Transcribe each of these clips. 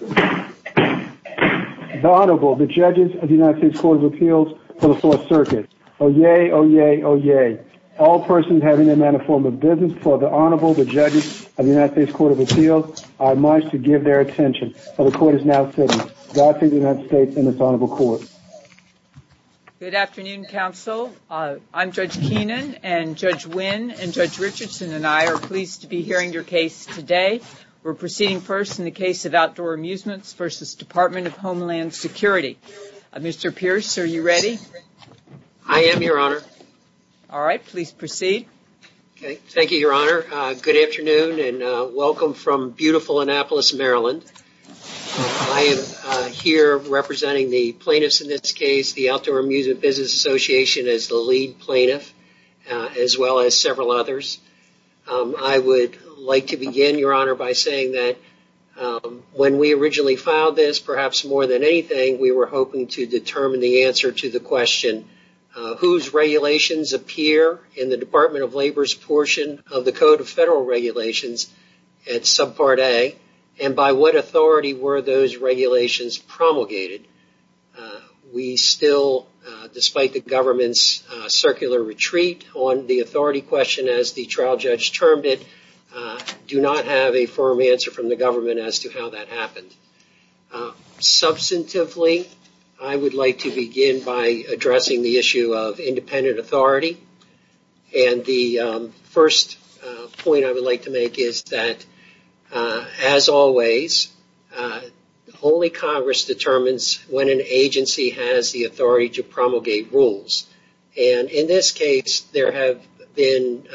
The Honorable, the Judges of the United States Court of Appeals for the 4th Circuit, Oyez, Oyez, Oyez. All persons having a manner of form of business, for the Honorable, the Judges of the United States Court of Appeals, I must give their attention. The Court is now sitting. God save the United States and this Honorable Court. Good afternoon, Counsel. I'm Judge Keenan, and Judge Wynn and Judge Richardson and I are pleased to be hearing your case today. We're proceeding first in the case of Outdoor Amusements v. Department of Homeland Security. Mr. Pierce, are you ready? I am, Your Honor. All right, please proceed. Thank you, Your Honor. Good afternoon and welcome from beautiful Annapolis, Maryland. I am here representing the plaintiffs in this case, the Outdoor Amusement Business Association as the lead plaintiff, as well as several others. I would like to begin, Your Honor, by saying that when we originally filed this, perhaps more than anything, we were hoping to determine the answer to the question, whose regulations appear in the Department of Labor's portion of the Code of Federal Regulations at Subpart A and by what authority were those regulations promulgated? We still, despite the government's circular retreat on the authority question as the trial judge termed it, do not have a firm answer from the government as to how that happened. Substantively, I would like to begin by addressing the issue of independent authority. The first point I would like to make is that, as always, only Congress determines when an agency has the authority to promulgate rules. In this case, there have been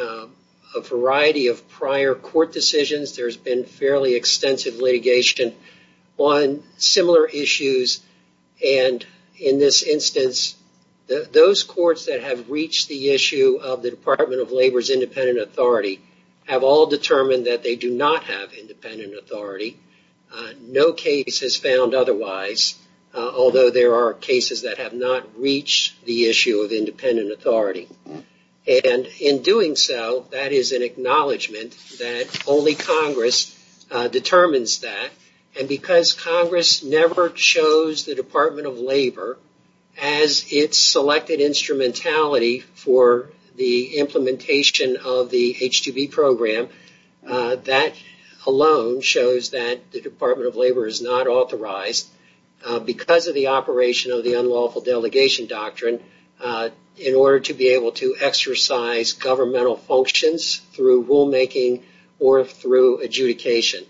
a variety of prior court decisions. There has been fairly extensive litigation on similar issues. In this instance, those courts that have reached the issue of the Department of Labor's independent authority have all determined that they do not have independent authority. No case has found otherwise, although there are cases that have not reached the issue of independent authority. In doing so, that is an acknowledgment that only Congress determines that. Because Congress never chose the Department of Labor as its selected instrumentality for the implementation of the H-2B program, that alone shows that the Department of Labor is not authorized, because of the operation of the unlawful delegation doctrine, in order to be able to exercise governmental functions through rulemaking or through adjudication.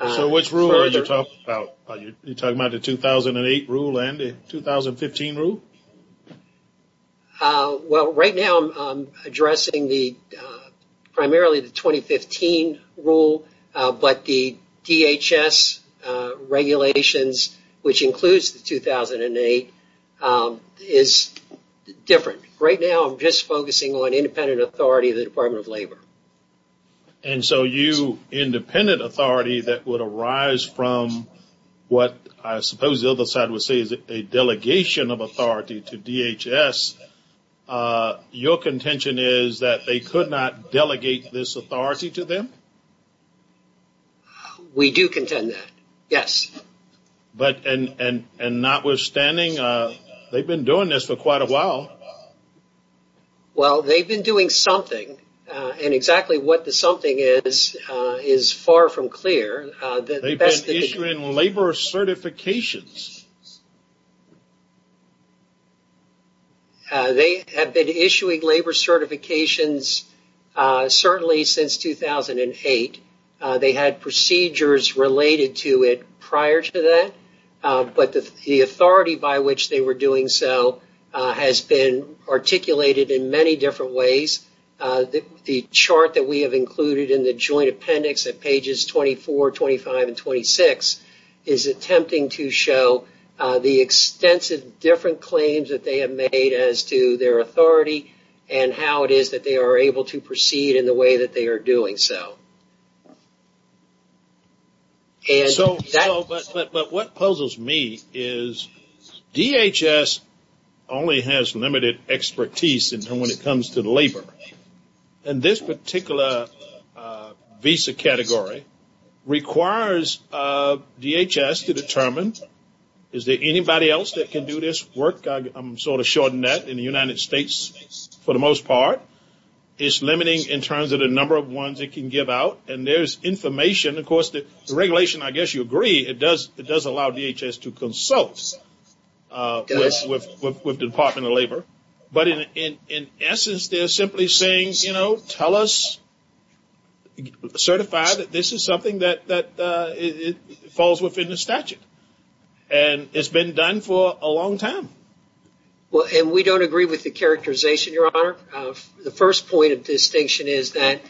Which rule are you talking about? Are you talking about the 2008 rule and the 2015 rule? Right now, I am addressing primarily the 2015 rule, but the DHS regulations, which includes the 2008, are different. Right now, I am just focusing on independent authority of the Department of Labor. So, independent authority that would arise from what I suppose the other side would say is a delegation of authority to DHS, your contention is that they could not delegate this authority to them? We do contend that, yes. Notwithstanding, they have been doing this for quite a while. Well, they have been doing something, and exactly what the something is, is far from clear. They have been issuing labor certifications. They have been issuing labor certifications certainly since 2008. They had procedures related to it prior to that, but the authority by which they were doing so has been articulated in many different ways. The chart that we have included in the joint appendix at pages 24, 25, and 26 is attempting to show the extensive different claims that they have made as to their authority and how it is that they are able to proceed in the way that they are doing so. But what puzzles me is DHS only has limited expertise when it comes to labor, and this particular visa category requires DHS to determine, is there anybody else that can do this work? I am sort of shorting that in the United States for the most part. It is limiting in terms of the number of ones it can give out. And there is information, of course, the regulation, I guess you agree, it does allow DHS to consult with the Department of Labor, but in essence they are simply saying, you know, tell us, certify that this is something that falls within the statute. And it has been done for a long time. The first point of distinction is that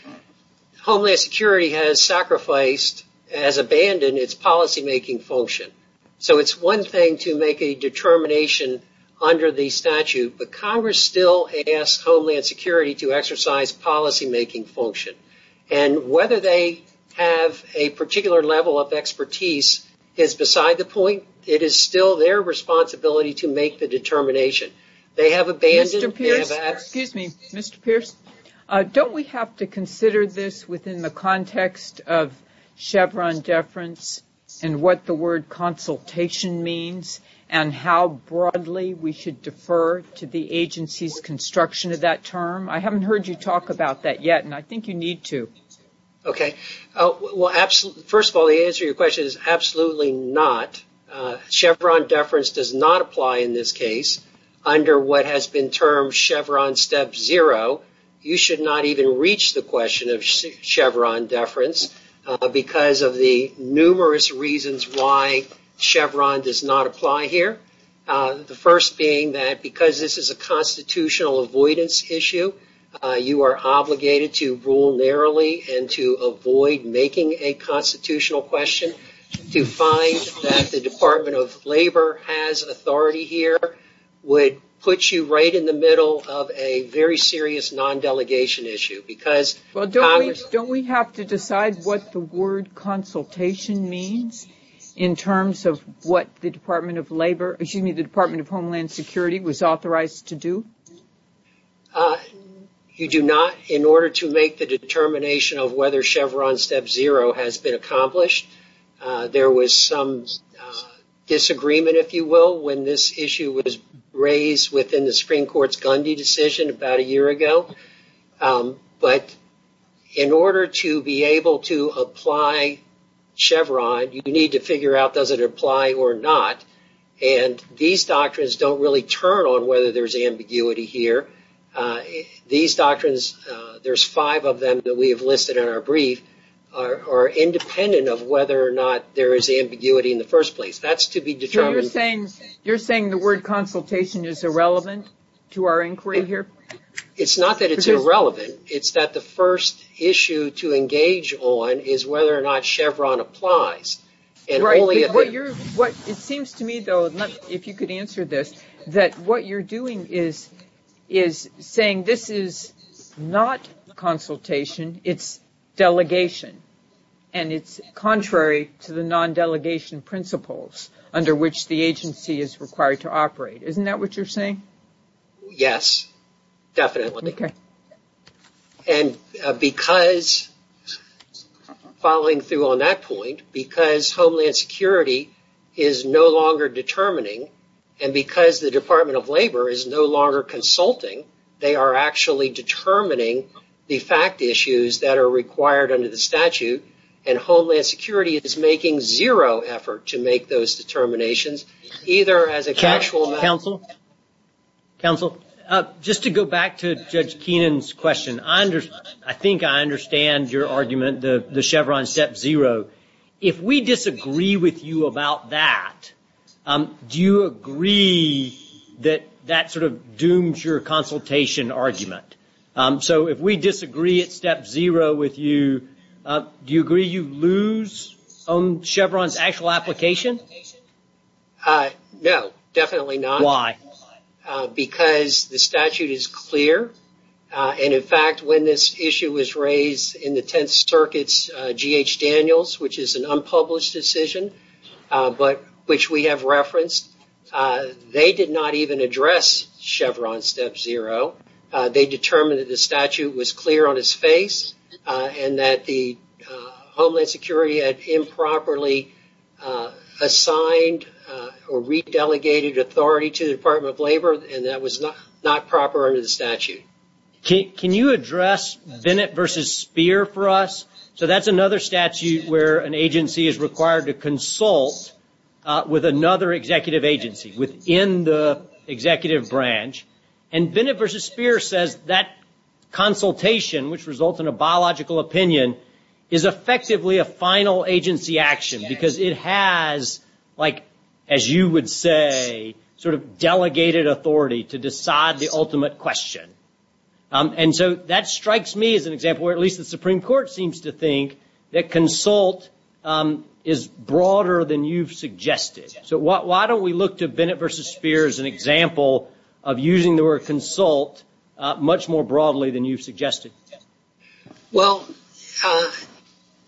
Homeland Security has sacrificed, has abandoned its policymaking function. So it is one thing to make a determination under the statute, but Congress still asks Homeland Security to exercise policymaking function. And whether they have a particular level of expertise is beside the point. It is still their responsibility to make the determination. They have abandoned. Excuse me, Mr. Pierce, don't we have to consider this within the context of Chevron deference and what the word consultation means and how broadly we should defer to the agency's construction of that term? I haven't heard you talk about that yet, and I think you need to. Okay. Well, first of all, the answer to your question is absolutely not. Chevron deference does not apply in this case under what has been termed Chevron step zero. You should not even reach the question of Chevron deference because of the numerous reasons why Chevron does not apply here. The first being that because this is a constitutional avoidance issue, you are obligated to rule narrowly and to avoid making a constitutional question. To find that the Department of Labor has authority here would put you right in the middle of a very serious non-delegation issue. Don't we have to decide what the word consultation means in terms of what the Department of Homeland Security was authorized to do? You do not. In order to make the determination of whether Chevron step zero has been accomplished, there was some disagreement, if you will, when this issue was raised within the Supreme Court's Gundy decision about a year ago. But in order to be able to apply Chevron, you need to figure out does it apply or not. And these doctrines don't really turn on whether there's ambiguity here. These doctrines, there's five of them that we have listed in our brief, are independent of whether or not there is ambiguity in the first place. That's to be determined. You're saying the word consultation is irrelevant to our inquiry here? It's not that it's irrelevant. It's that the first issue to engage on is whether or not Chevron applies. It seems to me, though, if you could answer this, that what you're doing is saying this is not consultation. It's delegation, and it's contrary to the non-delegation principles under which the agency is required to operate. Isn't that what you're saying? Yes, definitely. And because, following through on that point, because Homeland Security is no longer determining and because the Department of Labor is no longer consulting, they are actually determining the fact issues that are required under the statute, and Homeland Security is making zero effort to make those determinations, either as a casual matter. Counsel? Counsel? Just to go back to Judge Keenan's question, I think I understand your argument, the Chevron step zero. If we disagree with you about that, do you agree that that sort of dooms your consultation argument? So if we disagree at step zero with you, do you agree you lose Chevron's actual application? No, definitely not. Why? Because the statute is clear, and in fact when this issue was raised in the Tenth Circuit's G.H. Daniels, which is an unpublished decision, which we have referenced, they did not even address Chevron step zero. They determined that the statute was clear on its face and that the Homeland Security had improperly assigned or re-delegated authority to the Department of Labor, and that was not proper under the statute. Can you address Bennett v. Speer for us? So that's another statute where an agency is required to consult with another executive agency within the executive branch, and Bennett v. Speer says that consultation, which results in a biological opinion, is effectively a final agency action because it has, like, as you would say, sort of delegated authority to decide the ultimate question. And so that strikes me as an example, or at least the Supreme Court seems to think, that consult is broader than you've suggested. So why don't we look to Bennett v. Speer as an example of using the word consult much more broadly than you've suggested? Well,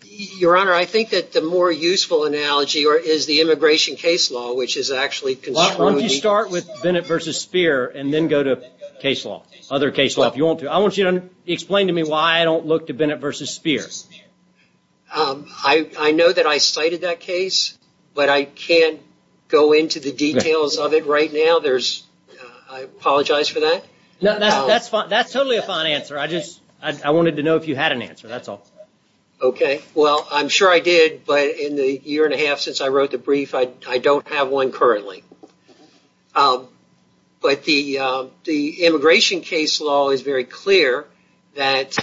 Your Honor, I think that the more useful analogy is the immigration case law, Why don't you start with Bennett v. Speer and then go to case law, other case law, if you want to. I want you to explain to me why I don't look to Bennett v. Speer. I know that I cited that case, but I can't go into the details of it right now. I apologize for that. That's totally a fine answer. I just wanted to know if you had an answer, that's all. Okay, well, I'm sure I did. But in the year and a half since I wrote the brief, I don't have one currently. But the immigration case law is very clear that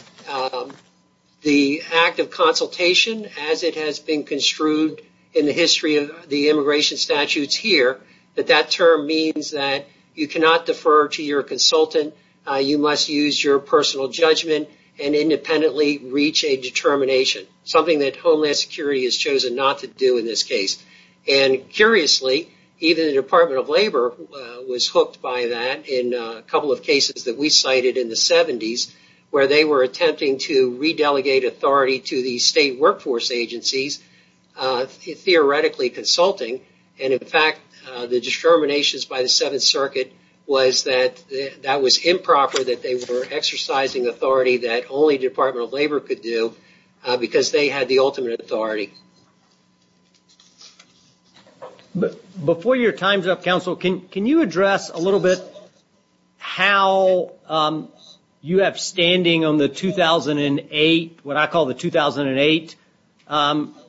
the act of consultation, as it has been construed in the history of the immigration statutes here, that that term means that you cannot defer to your consultant. You must use your personal judgment and independently reach a determination, something that Homeland Security has chosen not to do in this case. And curiously, even the Department of Labor was hooked by that in a couple of cases that we cited in the 70s, where they were attempting to re-delegate authority to the state workforce agencies, theoretically consulting. And in fact, the determinations by the Seventh Circuit was that that was improper, that they were exercising authority that only Department of Labor could do because they had the ultimate authority. But before your time's up, counsel, can you address a little bit how you have standing on the 2008, what I call the 2008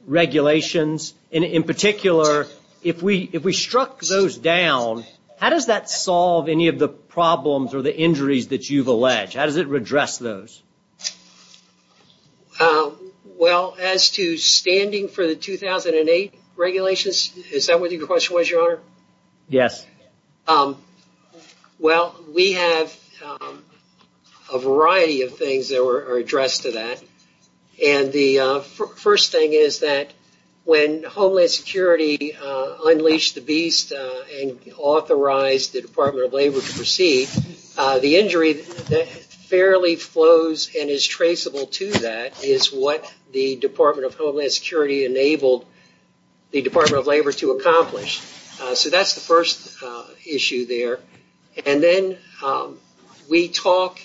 regulations, and in particular, if we struck those down, how does that solve any of the problems or the injuries that you've alleged? How does it redress those? Well, as to standing for the 2008 regulations, is that what your question was, Your Honor? Yes. Well, we have a variety of things that are addressed to that. And the first thing is that when Homeland Security unleashed the beast and authorized the Department of Labor to proceed, the injury that fairly flows and is traceable to that is what the Department of Homeland Security enabled the Department of Labor to accomplish. So that's the first issue there. And then we talk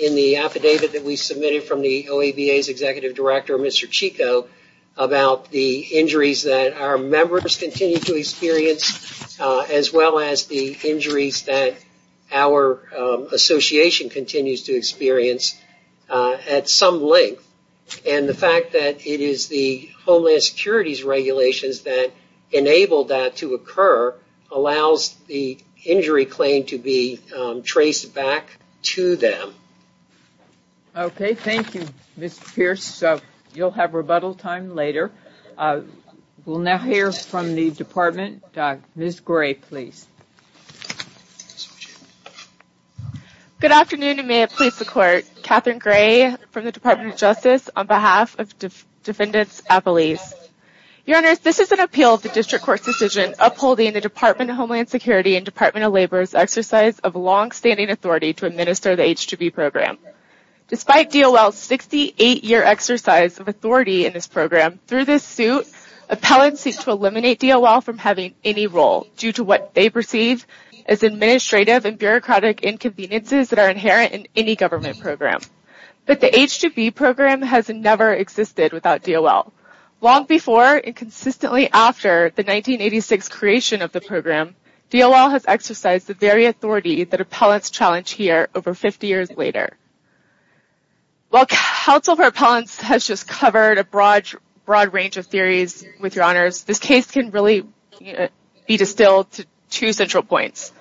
in the affidavit that we submitted from the OABA's executive director, Mr. Chico, about the injuries that our members continue to experience, as well as the injuries that our association continues to experience at some length. And the fact that it is the Homeland Security's regulations that enabled that to occur allows the injury claim to be traced back to them. Okay. Thank you, Mr. Pierce. So you'll have rebuttal time later. We'll now hear from the Department. Ms. Gray, please. Good afternoon, and may it please the Court. Catherine Gray from the Department of Justice on behalf of Defendants at Police. Your Honors, this is an appeal of the District Court's decision upholding the Department of Homeland Security and Department of Labor's exercise of longstanding authority to administer the H-2B program. Despite DOL's 68-year exercise of authority in this program, through this suit, appellants seek to eliminate DOL from having any role due to what they perceive as administrative and bureaucratic inconveniences that are inherent in any government program. But the H-2B program has never existed without DOL. Long before and consistently after the 1986 creation of the program, DOL has exercised the very authority that appellants challenge here over 50 years later. While counsel for appellants has just covered a broad range of theories, with your Honors, this case can really be distilled to two central points.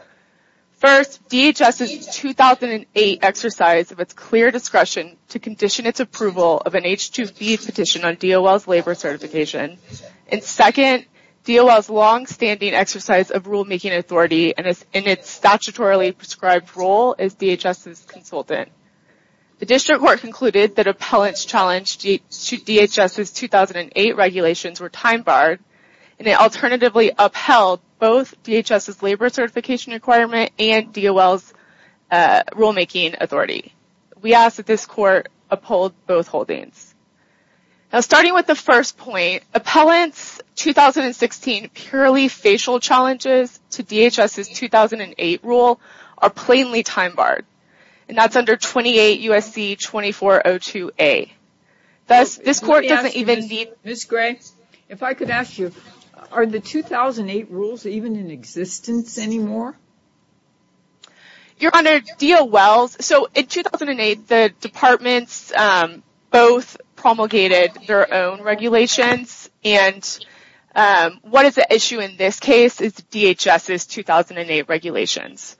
First, DHS's 2008 exercise of its clear discretion to condition its approval of an H-2B petition on DOL's labor certification. And second, DOL's longstanding exercise of rulemaking authority and its statutorily prescribed role as DHS's consultant. The District Court concluded that appellants' challenge to DHS's 2008 regulations were time-barred and it alternatively upheld both DHS's labor certification requirement and DOL's rulemaking authority. We ask that this Court uphold both holdings. Starting with the first point, appellants' 2016 purely facial challenges to DHS's 2008 rule are plainly time-barred. And that's under 28 U.S.C. 2402A. Thus, this Court doesn't even need... Ms. Gray, if I could ask you, are the 2008 rules even in existence anymore? Your Honor, DOL's... So, in 2008, the departments both promulgated their own regulations. And what is the issue in this case is DHS's 2008 regulations.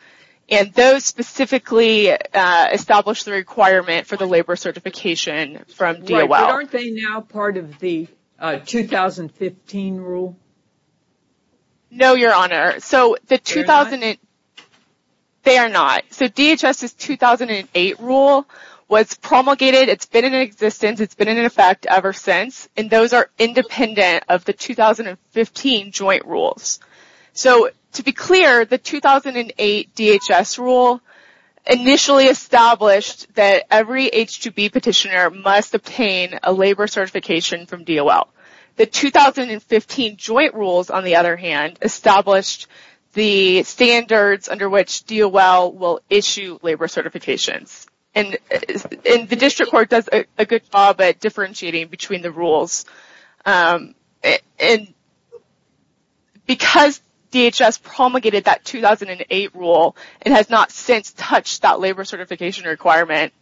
And those specifically established the requirement for the labor certification from DOL. But aren't they now part of the 2015 rule? No, Your Honor. So, the 2008... They are not. So, DHS's 2008 rule was promulgated. It's been in existence. It's been in effect ever since. And those are independent of the 2015 joint rules. So, to be clear, the 2008 DHS rule initially established that every H-2B petitioner must obtain a labor certification from DOL. The 2015 joint rules, on the other hand, established the standards under which DOL will issue labor certifications. And the district court does a good job at differentiating between the rules. And because DHS promulgated that 2008 rule, it has not since touched that labor certification requirement.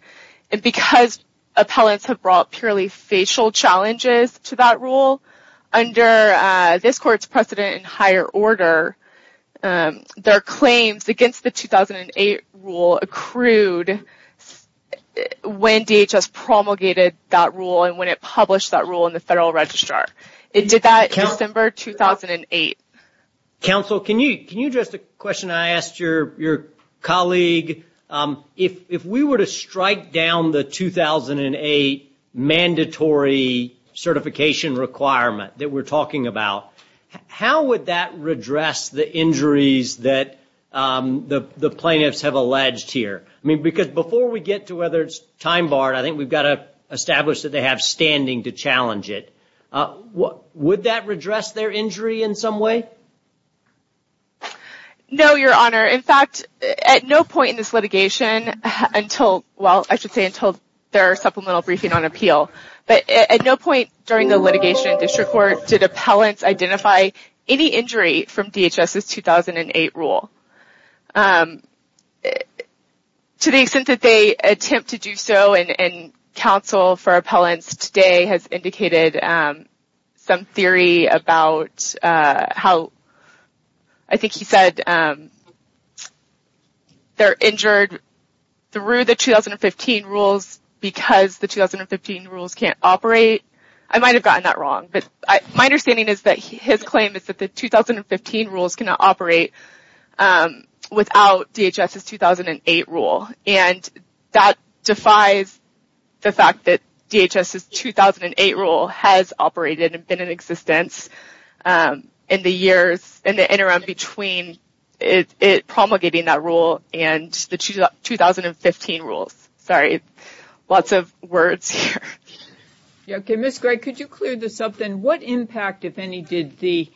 And because appellants have brought purely facial challenges to that rule, under this court's precedent in higher order, their claims against the 2008 rule accrued when DHS promulgated that rule and when it published that rule in the Federal Registrar. It did that in December 2008. Counsel, can you address the question I asked your colleague? If we were to strike down the 2008 mandatory certification requirement that we're talking about, how would that redress the injuries that the plaintiffs have alleged here? I mean, because before we get to whether it's time barred, I think we've got to establish that they have standing to challenge it. Would that redress their injury in some way? No, Your Honor. In fact, at no point in this litigation until, well, I should say until their supplemental briefing on appeal. But at no point during the litigation in district court did appellants identify any injury from DHS's 2008 rule. To the extent that they attempt to do so, and counsel for appellants today has indicated some theory about how, I think he said they're injured through the 2015 rules because the 2015 rules can't operate. I might have gotten that wrong, but my understanding is that his claim is that the 2015 rules cannot operate without DHS's 2008 rule. And that defies the fact that DHS's 2008 rule has operated and been in existence in the years, in the interim between promulgating that rule and the 2015 rules. Sorry, lots of words here. Okay, Ms. Gray, could you clear this up then? What impact, if any, did the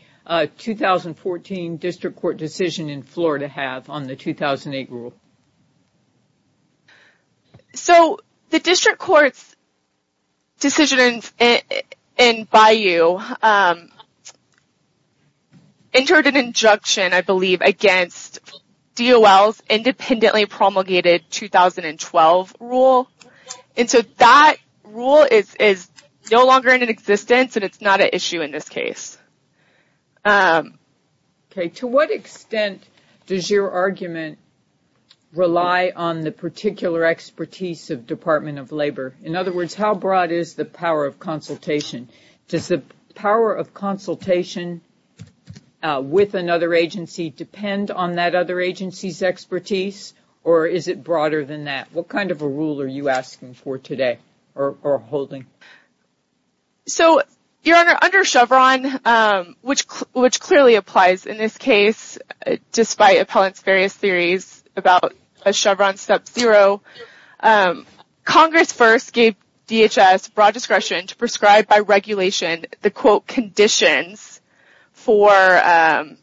2014 district court decision in Florida have on the 2008 rule? So, the district court's decision in Bayou entered an injunction, I believe, against DOL's independently promulgated 2012 rule. And so that rule is no longer in existence, and it's not an issue in this case. Okay, to what extent does your argument rely on the particular expertise of Department of Labor? In other words, how broad is the power of consultation? Does the power of consultation with another agency depend on that other agency's expertise, or is it broader than that? What kind of a rule are you asking for today, or holding? So, Your Honor, under Chevron, which clearly applies in this case, despite appellants' various theories about a Chevron sub-zero, Congress first gave DHS broad discretion to prescribe by regulation the, quote, conditions for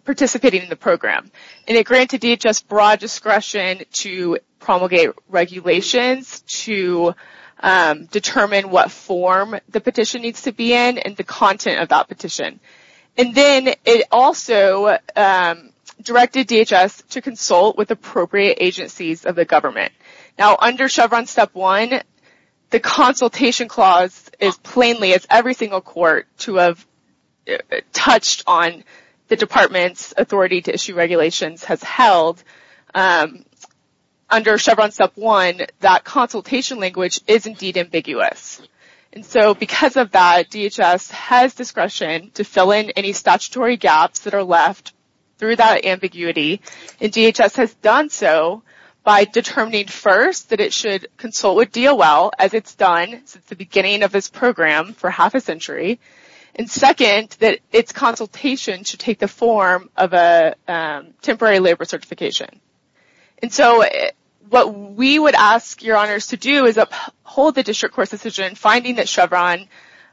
participating in the program. And it granted DHS broad discretion to promulgate regulations to determine what form the petition needs to be in and the content of that petition. And then it also directed DHS to consult with appropriate agencies of the government. Now, under Chevron Step 1, the consultation clause is plainly, as every single court to have touched on the Department's authority to issue regulations has held. Under Chevron Step 1, that consultation language is indeed ambiguous. And so, because of that, DHS has discretion to fill in any statutory gaps that are left through that ambiguity. And DHS has done so by determining, first, that it should consult with DOL, as it's done since the beginning of this program for half a century. And second, that its consultation should take the form of a temporary labor certification. And so, what we would ask your honors to do is uphold the district court's decision, finding that Chevron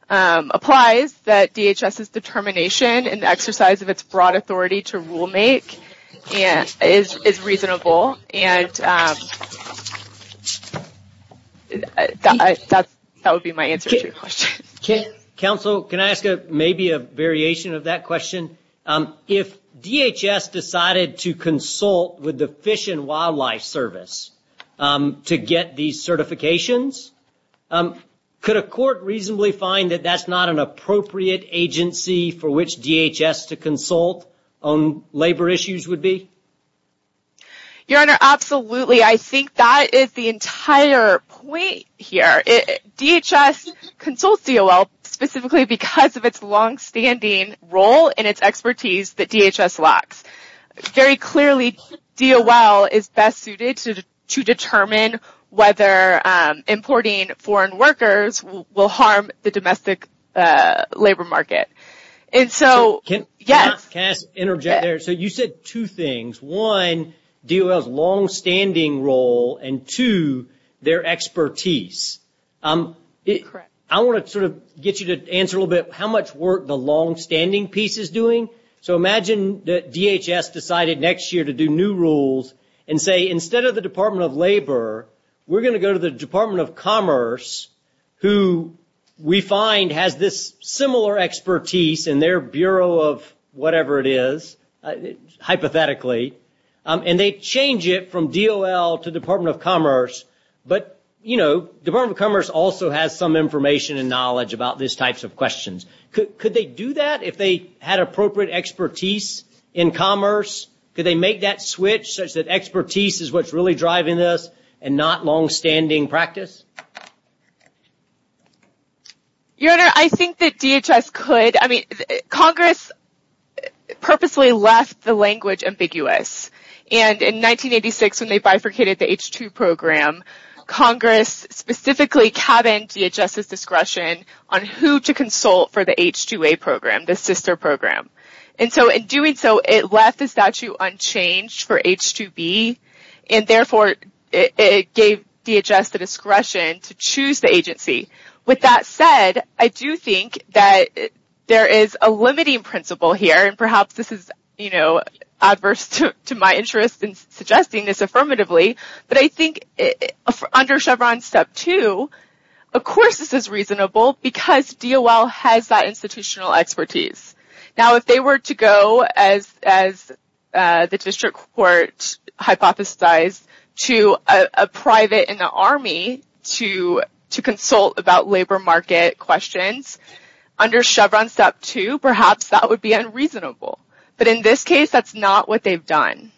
applies, that DHS's determination and exercise of its broad authority to rule make is reasonable. And that would be my answer to your question. Counsel, can I ask maybe a variation of that question? If DHS decided to consult with the Fish and Wildlife Service to get these certifications, could a court reasonably find that that's not an appropriate agency for which DHS to consult on labor issues would be? Your Honor, absolutely. I think that is the entire point here. DHS consults DOL specifically because of its longstanding role and its expertise that DHS lacks. Very clearly, DOL is best suited to determine whether importing foreign workers will harm the domestic labor market. And so, yes. Can I interject there? So, you said two things. One, DOL's longstanding role, and two, their expertise. Correct. I want to sort of get you to answer a little bit how much work the longstanding piece is doing. So, imagine that DHS decided next year to do new rules and say, instead of the Department of Labor, we're going to go to the Department of Commerce, who we find has this similar expertise in their Bureau of whatever it is, hypothetically. And they change it from DOL to Department of Commerce. But, you know, Department of Commerce also has some information and knowledge about these types of questions. Could they do that if they had appropriate expertise in commerce? Could they make that switch such that expertise is what's really driving this and not longstanding practice? Your Honor, I think that DHS could. I mean, Congress purposely left the language ambiguous. And in 1986, when they bifurcated the H-2 program, Congress specifically cabined DHS's discretion on who to consult for the H-2A program, the sister program. And so, in doing so, it left the statute unchanged for H-2B. And therefore, it gave DHS the discretion to choose the agency. With that said, I do think that there is a limiting principle here. And perhaps this is, you know, adverse to my interest in suggesting this affirmatively. But I think under Chevron Step 2, of course this is reasonable because DOL has that institutional expertise. Now, if they were to go, as the District Court hypothesized, to a private in the Army to consult about labor market questions, under Chevron Step 2, perhaps that would be unreasonable. But in this case, that's not what they've done.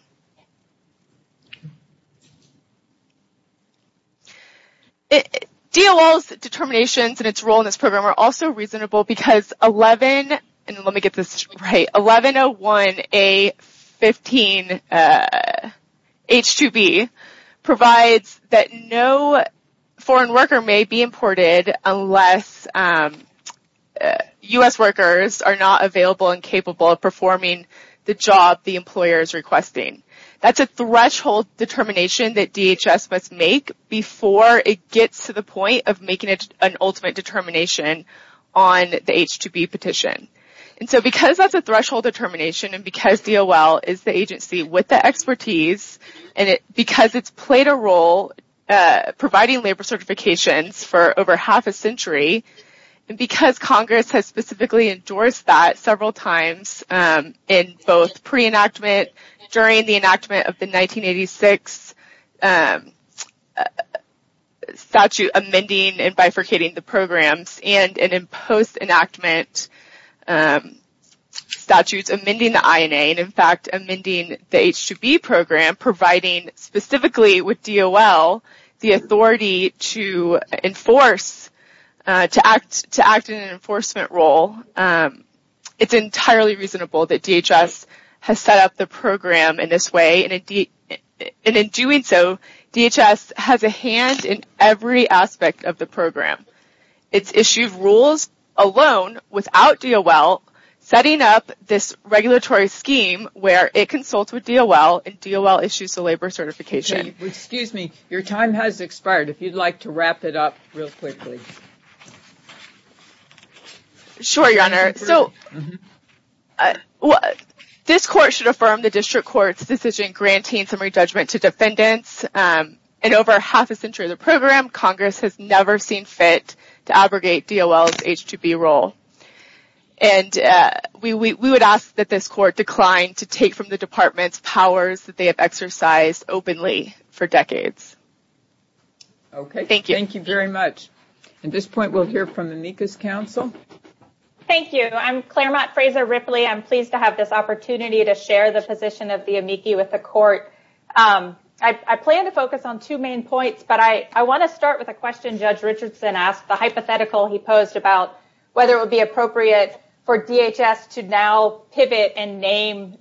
DOL's determinations and its role in this program are also reasonable because 1101A15H-2B provides that no foreign worker may be imported unless U.S. workers are not available and capable of performing the job the employer is requesting. That's a threshold determination that DHS must make before it gets to the point of making an ultimate determination on the H-2B petition. And so, because that's a threshold determination, and because DOL is the agency with the expertise, and because it's played a role providing labor certifications for over half a century, and because Congress has specifically endorsed that several times in both pre-enactment, during the enactment of the 1986 statute amending and bifurcating the programs, and in post-enactment statutes amending the INA, and in fact amending the H-2B program, providing specifically with DOL the authority to act in an enforcement role, it's entirely reasonable that DHS has set up the program in this way. And in doing so, DHS has a hand in every aspect of the program. It's issued rules alone, without DOL, setting up this regulatory scheme where it consults with DOL and DOL issues the labor certification. Excuse me, your time has expired. If you'd like to wrap it up real quickly. Sure, Your Honor. So, this Court should affirm the District Court's decision granting summary judgment to defendants. In over half a century of the program, Congress has never seen fit to aggregate DOL's H-2B role. And we would ask that this Court decline to take from the Department's powers that they have exercised openly for decades. Okay. Thank you. Thank you very much. At this point, we'll hear from the NCCIS Council. Thank you. I'm Claremont Fraser Ripley. I'm pleased to have this opportunity to share the position of the amici with the Court. I plan to focus on two main points, but I want to start with a question Judge Richardson asked, the hypothetical he posed about whether it would be appropriate for DHS to now pivot and name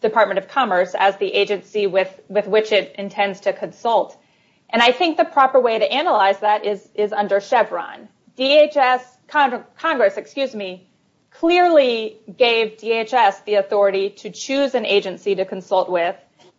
Department of Commerce as the agency with which it intends to consult. And I think the proper way to analyze that is under Chevron. Congress clearly gave DHS the authority to choose an agency to consult with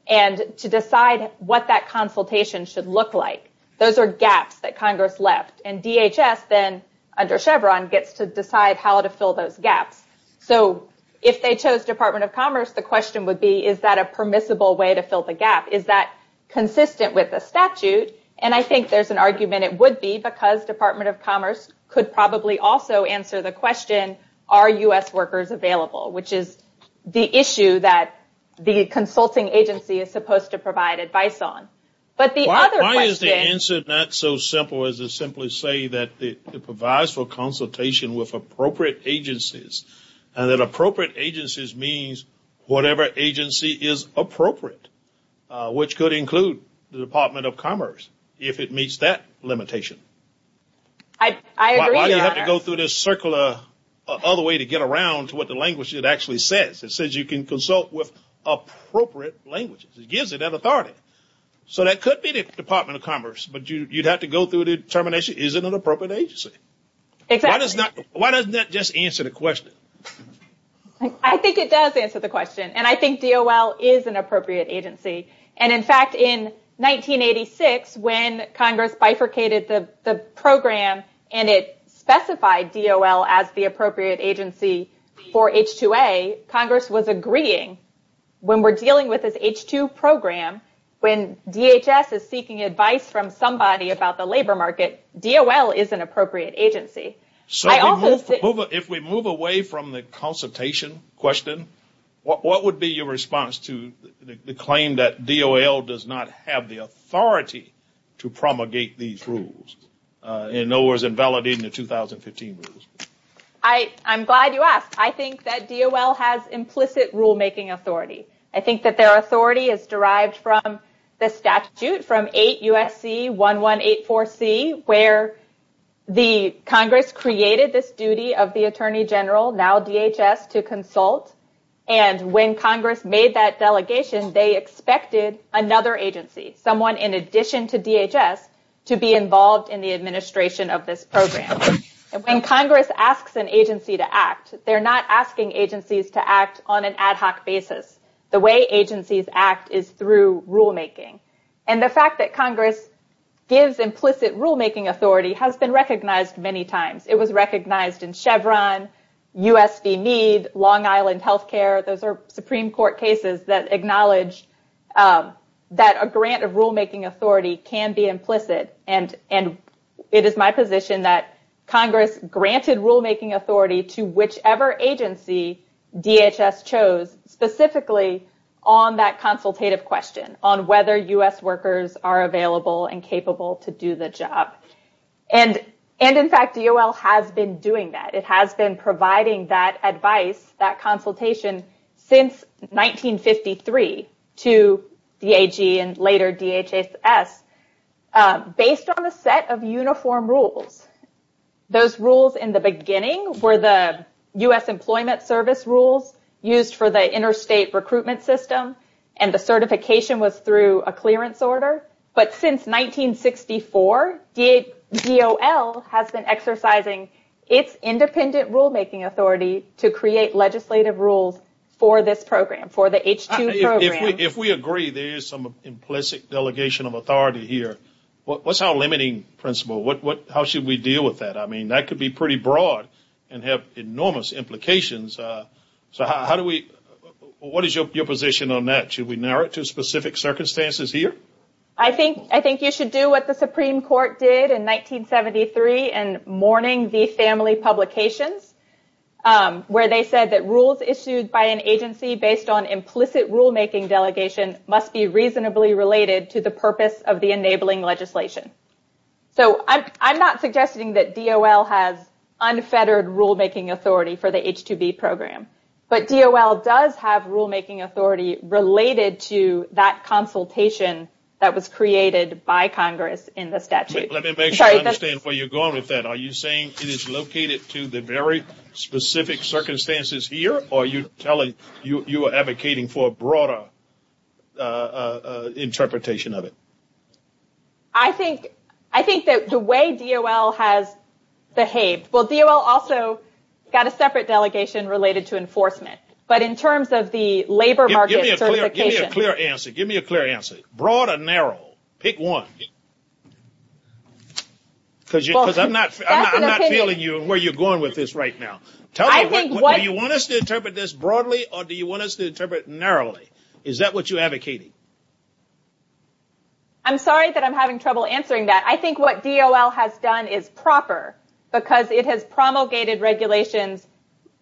and to decide what that consultation should look like. Those are gaps that Congress left, and DHS then, under Chevron, gets to decide how to fill those gaps. So, if they chose Department of Commerce, the question would be, is that a permissible way to fill the gap? Is that consistent with the statute? And I think there's an argument it would be, because Department of Commerce could probably also answer the question, are U.S. workers available, which is the issue that the consulting agency is supposed to provide advice on. Why is the answer not so simple as to simply say that it provides for consultation with appropriate agencies, and that appropriate agencies means whatever agency is appropriate, which could include the Department of Commerce, if it meets that limitation. I agree, Your Honor. Why do you have to go through this circular other way to get around to what the language actually says? It says you can consult with appropriate languages. It gives it that authority. So that could be the Department of Commerce, but you'd have to go through the determination, is it an appropriate agency? Exactly. Why doesn't that just answer the question? I think it does answer the question, and I think DOL is an appropriate agency. In fact, in 1986, when Congress bifurcated the program and it specified DOL as the appropriate agency for H-2A, Congress was agreeing when we're dealing with this H-2 program, when DHS is seeking advice from somebody about the labor market, DOL is an appropriate agency. If we move away from the consultation question, what would be your response to the claim that DOL does not have the authority to promulgate these rules, in other words, invalidating the 2015 rules? I'm glad you asked. I think that DOL has implicit rulemaking authority. I think that their authority is derived from the statute from 8 U.S.C. 1184C, where Congress created this duty of the Attorney General, now DHS, to consult, and when Congress made that delegation, they expected another agency, someone in addition to DHS, to be involved in the administration of this program. When Congress asks an agency to act, they're not asking agencies to act on an ad hoc basis. The way agencies act is through rulemaking, and the fact that Congress gives implicit rulemaking authority has been recognized many times. It was recognized in Chevron, U.S. v. Meade, Long Island Healthcare. Those are Supreme Court cases that acknowledge that a grant of rulemaking authority can be implicit, and it is my position that Congress granted rulemaking authority to whichever agency DHS chose, specifically on that consultative question, on whether U.S. workers are available and capable to do the job. In fact, DOL has been doing that. It has been providing that advice, that consultation, since 1953 to DAG and later DHS, based on a set of uniform rules. Those rules in the beginning were the U.S. Employment Service rules used for the interstate recruitment system, and the certification was through a clearance order, but since 1964, DOL has been exercising its independent rulemaking authority to create legislative rules for this program, for the H-2 program. If we agree there is some implicit delegation of authority here, what's our limiting principle? How should we deal with that? That could be pretty broad and have enormous implications. What is your position on that? Should we narrow it to specific circumstances here? I think you should do what the Supreme Court did in 1973 in mourning the family publications, where they said that rules issued by an agency based on implicit rulemaking delegation must be reasonably related to the purpose of the enabling legislation. I'm not suggesting that DOL has unfettered rulemaking authority for the H-2B program, but DOL does have rulemaking authority related to that consultation that was created by Congress in the statute. Let me make sure I understand where you're going with that. Are you saying it is located to the very specific circumstances here, or are you advocating for a broader interpretation of it? I think that the way DOL has behaved, DOL also has a separate delegation related to enforcement, but in terms of the labor market certification. Give me a clear answer. Broad or narrow? Pick one. I'm not feeling you and where you're going with this right now. Do you want us to interpret this broadly, or do you want us to interpret it narrowly? Is that what you're advocating? I'm sorry that I'm having trouble answering that. I think what DOL has done is proper because it has promulgated regulations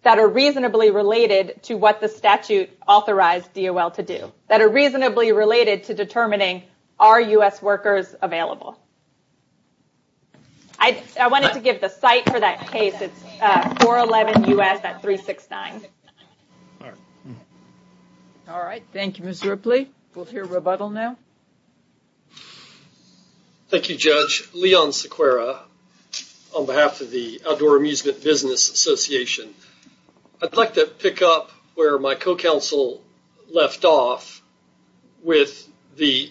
that are reasonably related to what the statute authorized DOL to do, that are reasonably related to determining are U.S. workers available. I wanted to give the site for that case. It's 411 U.S. at 369. All right. Thank you, Ms. Ripley. We'll hear rebuttal now. Thank you, Judge. Leon Sequeira on behalf of the Outdoor Amusement Business Association. I'd like to pick up where my co-counsel left off with the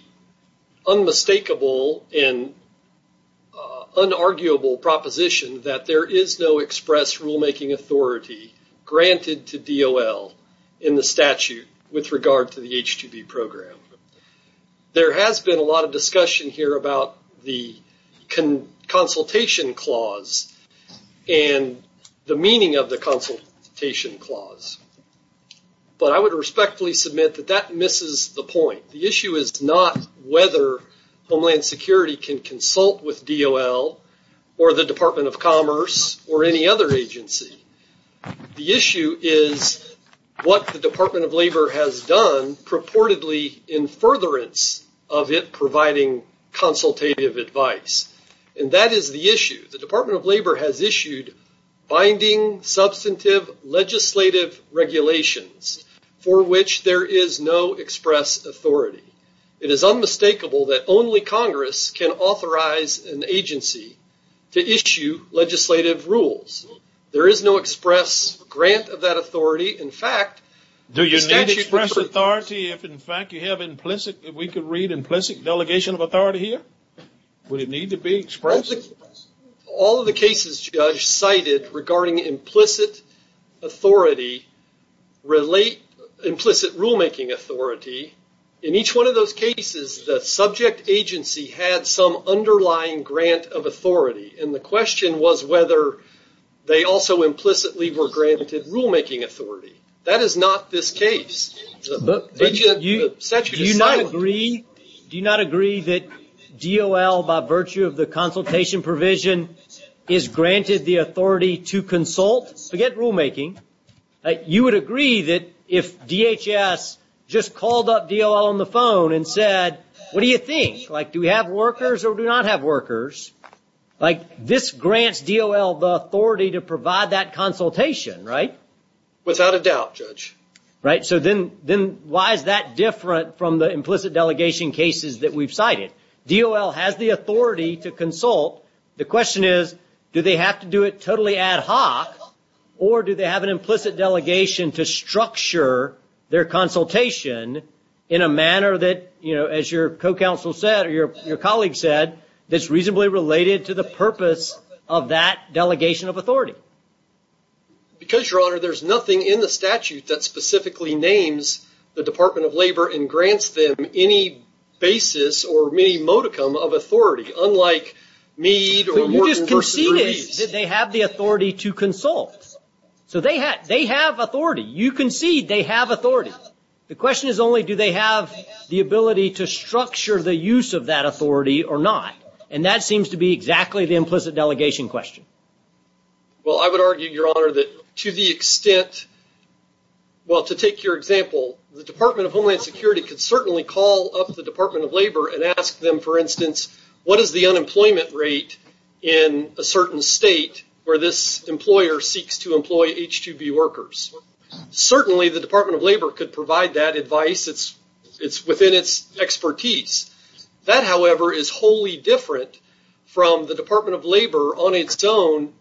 unmistakable and unarguable proposition that there is no express rulemaking authority granted to DOL in the statute with regard to the H-2B program. There has been a lot of discussion here about the consultation clause and the meaning of the consultation clause. But I would respectfully submit that that misses the point. The issue is not whether Homeland Security can consult with DOL or the Department of Commerce or any other agency. The issue is what the Department of Labor has done purportedly in furtherance of it providing consultative advice. And that is the issue. The Department of Labor has issued binding substantive legislative regulations for which there is no express authority. It is unmistakable that only Congress can authorize an agency to issue legislative rules. There is no express grant of that authority. Do you need express authority if, in fact, you have implicit delegation of authority here? Would it need to be expressed? All of the cases, Judge, cited regarding implicit rulemaking authority, in each one of those cases, was whether they also implicitly were granted rulemaking authority. That is not this case. Do you not agree that DOL, by virtue of the consultation provision, is granted the authority to consult? Forget rulemaking. You would agree that if DHS just called up DOL on the phone and said, what do you think? Do we have workers or do we not have workers? This grants DOL the authority to provide that consultation, right? Without a doubt, Judge. Then why is that different from the implicit delegation cases that we have cited? DOL has the authority to consult. The question is, do they have to do it totally ad hoc or do they have an implicit delegation to structure their consultation in a manner that, as your co-counsel said or your colleague said, that's reasonably related to the purpose of that delegation of authority? Because, Your Honor, there's nothing in the statute that specifically names the Department of Labor and grants them any basis or any modicum of authority, unlike Meade or Morton versus Reeves. You just conceded that they have the authority to consult. So they have authority. You conceded they have authority. The question is only, do they have the ability to structure the use of that authority or not? And that seems to be exactly the implicit delegation question. Well, I would argue, Your Honor, that to the extent, well, to take your example, the Department of Homeland Security could certainly call up the Department of Labor and ask them, for instance, what is the unemployment rate in a certain state where this employer seeks to employ H2B workers? Certainly the Department of Labor could provide that advice. It's within its expertise. That, however, is wholly different from the Department of Labor on its own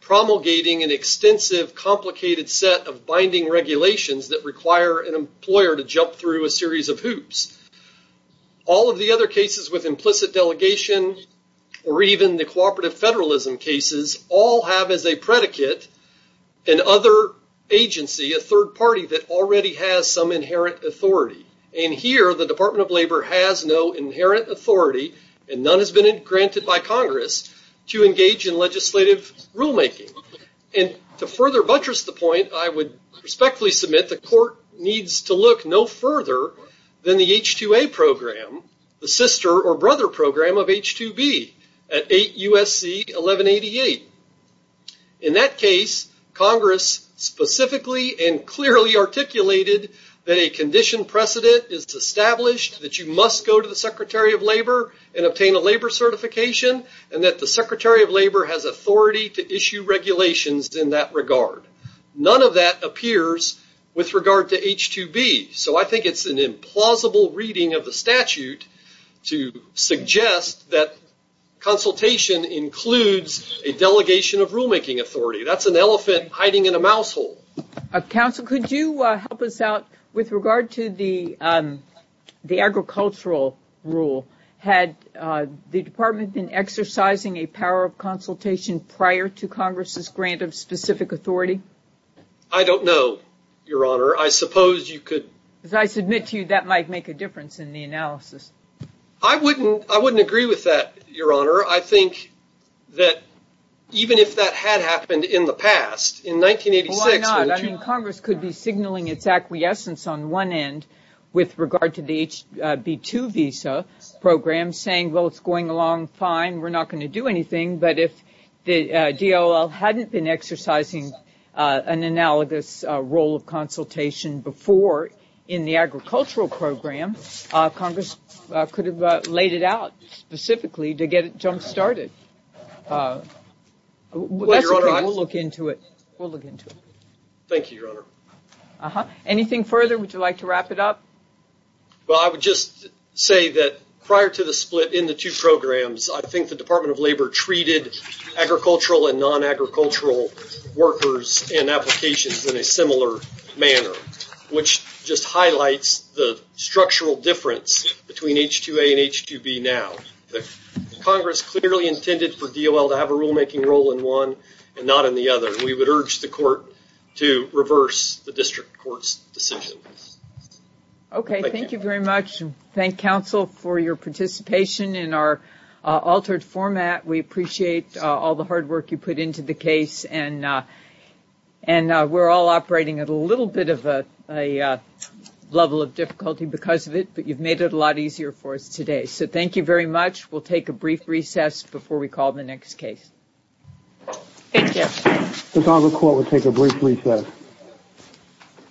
promulgating an extensive, complicated set of binding regulations that require an employer to jump through a series of hoops. All of the other cases with implicit delegation, or even the cooperative federalism cases, all have as a predicate an other agency, a third party, that already has some inherent authority. And here, the Department of Labor has no inherent authority, and none has been granted by Congress to engage in legislative rulemaking. And to further buttress the point, I would respectfully submit the court needs to look no further than the H2A program, the sister or brother program of H2B at 8 U.S.C. 1188. In that case, Congress specifically and clearly articulated that a condition precedent is established, that you must go to the Secretary of Labor and obtain a labor certification, and that the Secretary of Labor has authority to issue regulations in that regard. None of that appears with regard to H2B. So I think it's an implausible reading of the statute to suggest that consultation includes a delegation of rulemaking authority. That's an elephant hiding in a mouse hole. Counsel, could you help us out with regard to the agricultural rule? Had the department been exercising a power of consultation prior to Congress's grant of specific authority? I don't know, Your Honor. I suppose you could- As I submit to you, that might make a difference in the analysis. I wouldn't agree with that, Your Honor. I think that even if that had happened in the past, in 1986- Why not? I mean, Congress could be signaling its acquiescence on one end with regard to the HB2 visa program, saying, well, it's going along fine, we're not going to do anything. But if the DOL hadn't been exercising an analogous role of consultation before in the agricultural program, Congress could have laid it out specifically to get it jump-started. We'll look into it. Thank you, Your Honor. Anything further? Would you like to wrap it up? Well, I would just say that prior to the split in the two programs, I think the Department of Labor treated agricultural and non-agricultural workers and applications in a similar manner, which just highlights the structural difference between H2A and H2B now. Congress clearly intended for DOL to have a rulemaking role in one and not in the other. We would urge the court to reverse the district court's decision. Okay. Thank you very much. Thank, counsel, for your participation in our altered format. We appreciate all the hard work you put into the case, and we're all operating at a little bit of a level of difficulty because of it, but you've made it a lot easier for us today. So thank you very much. We'll take a brief recess before we call the next case. Thank you. Ms. Unger, court will take a brief recess.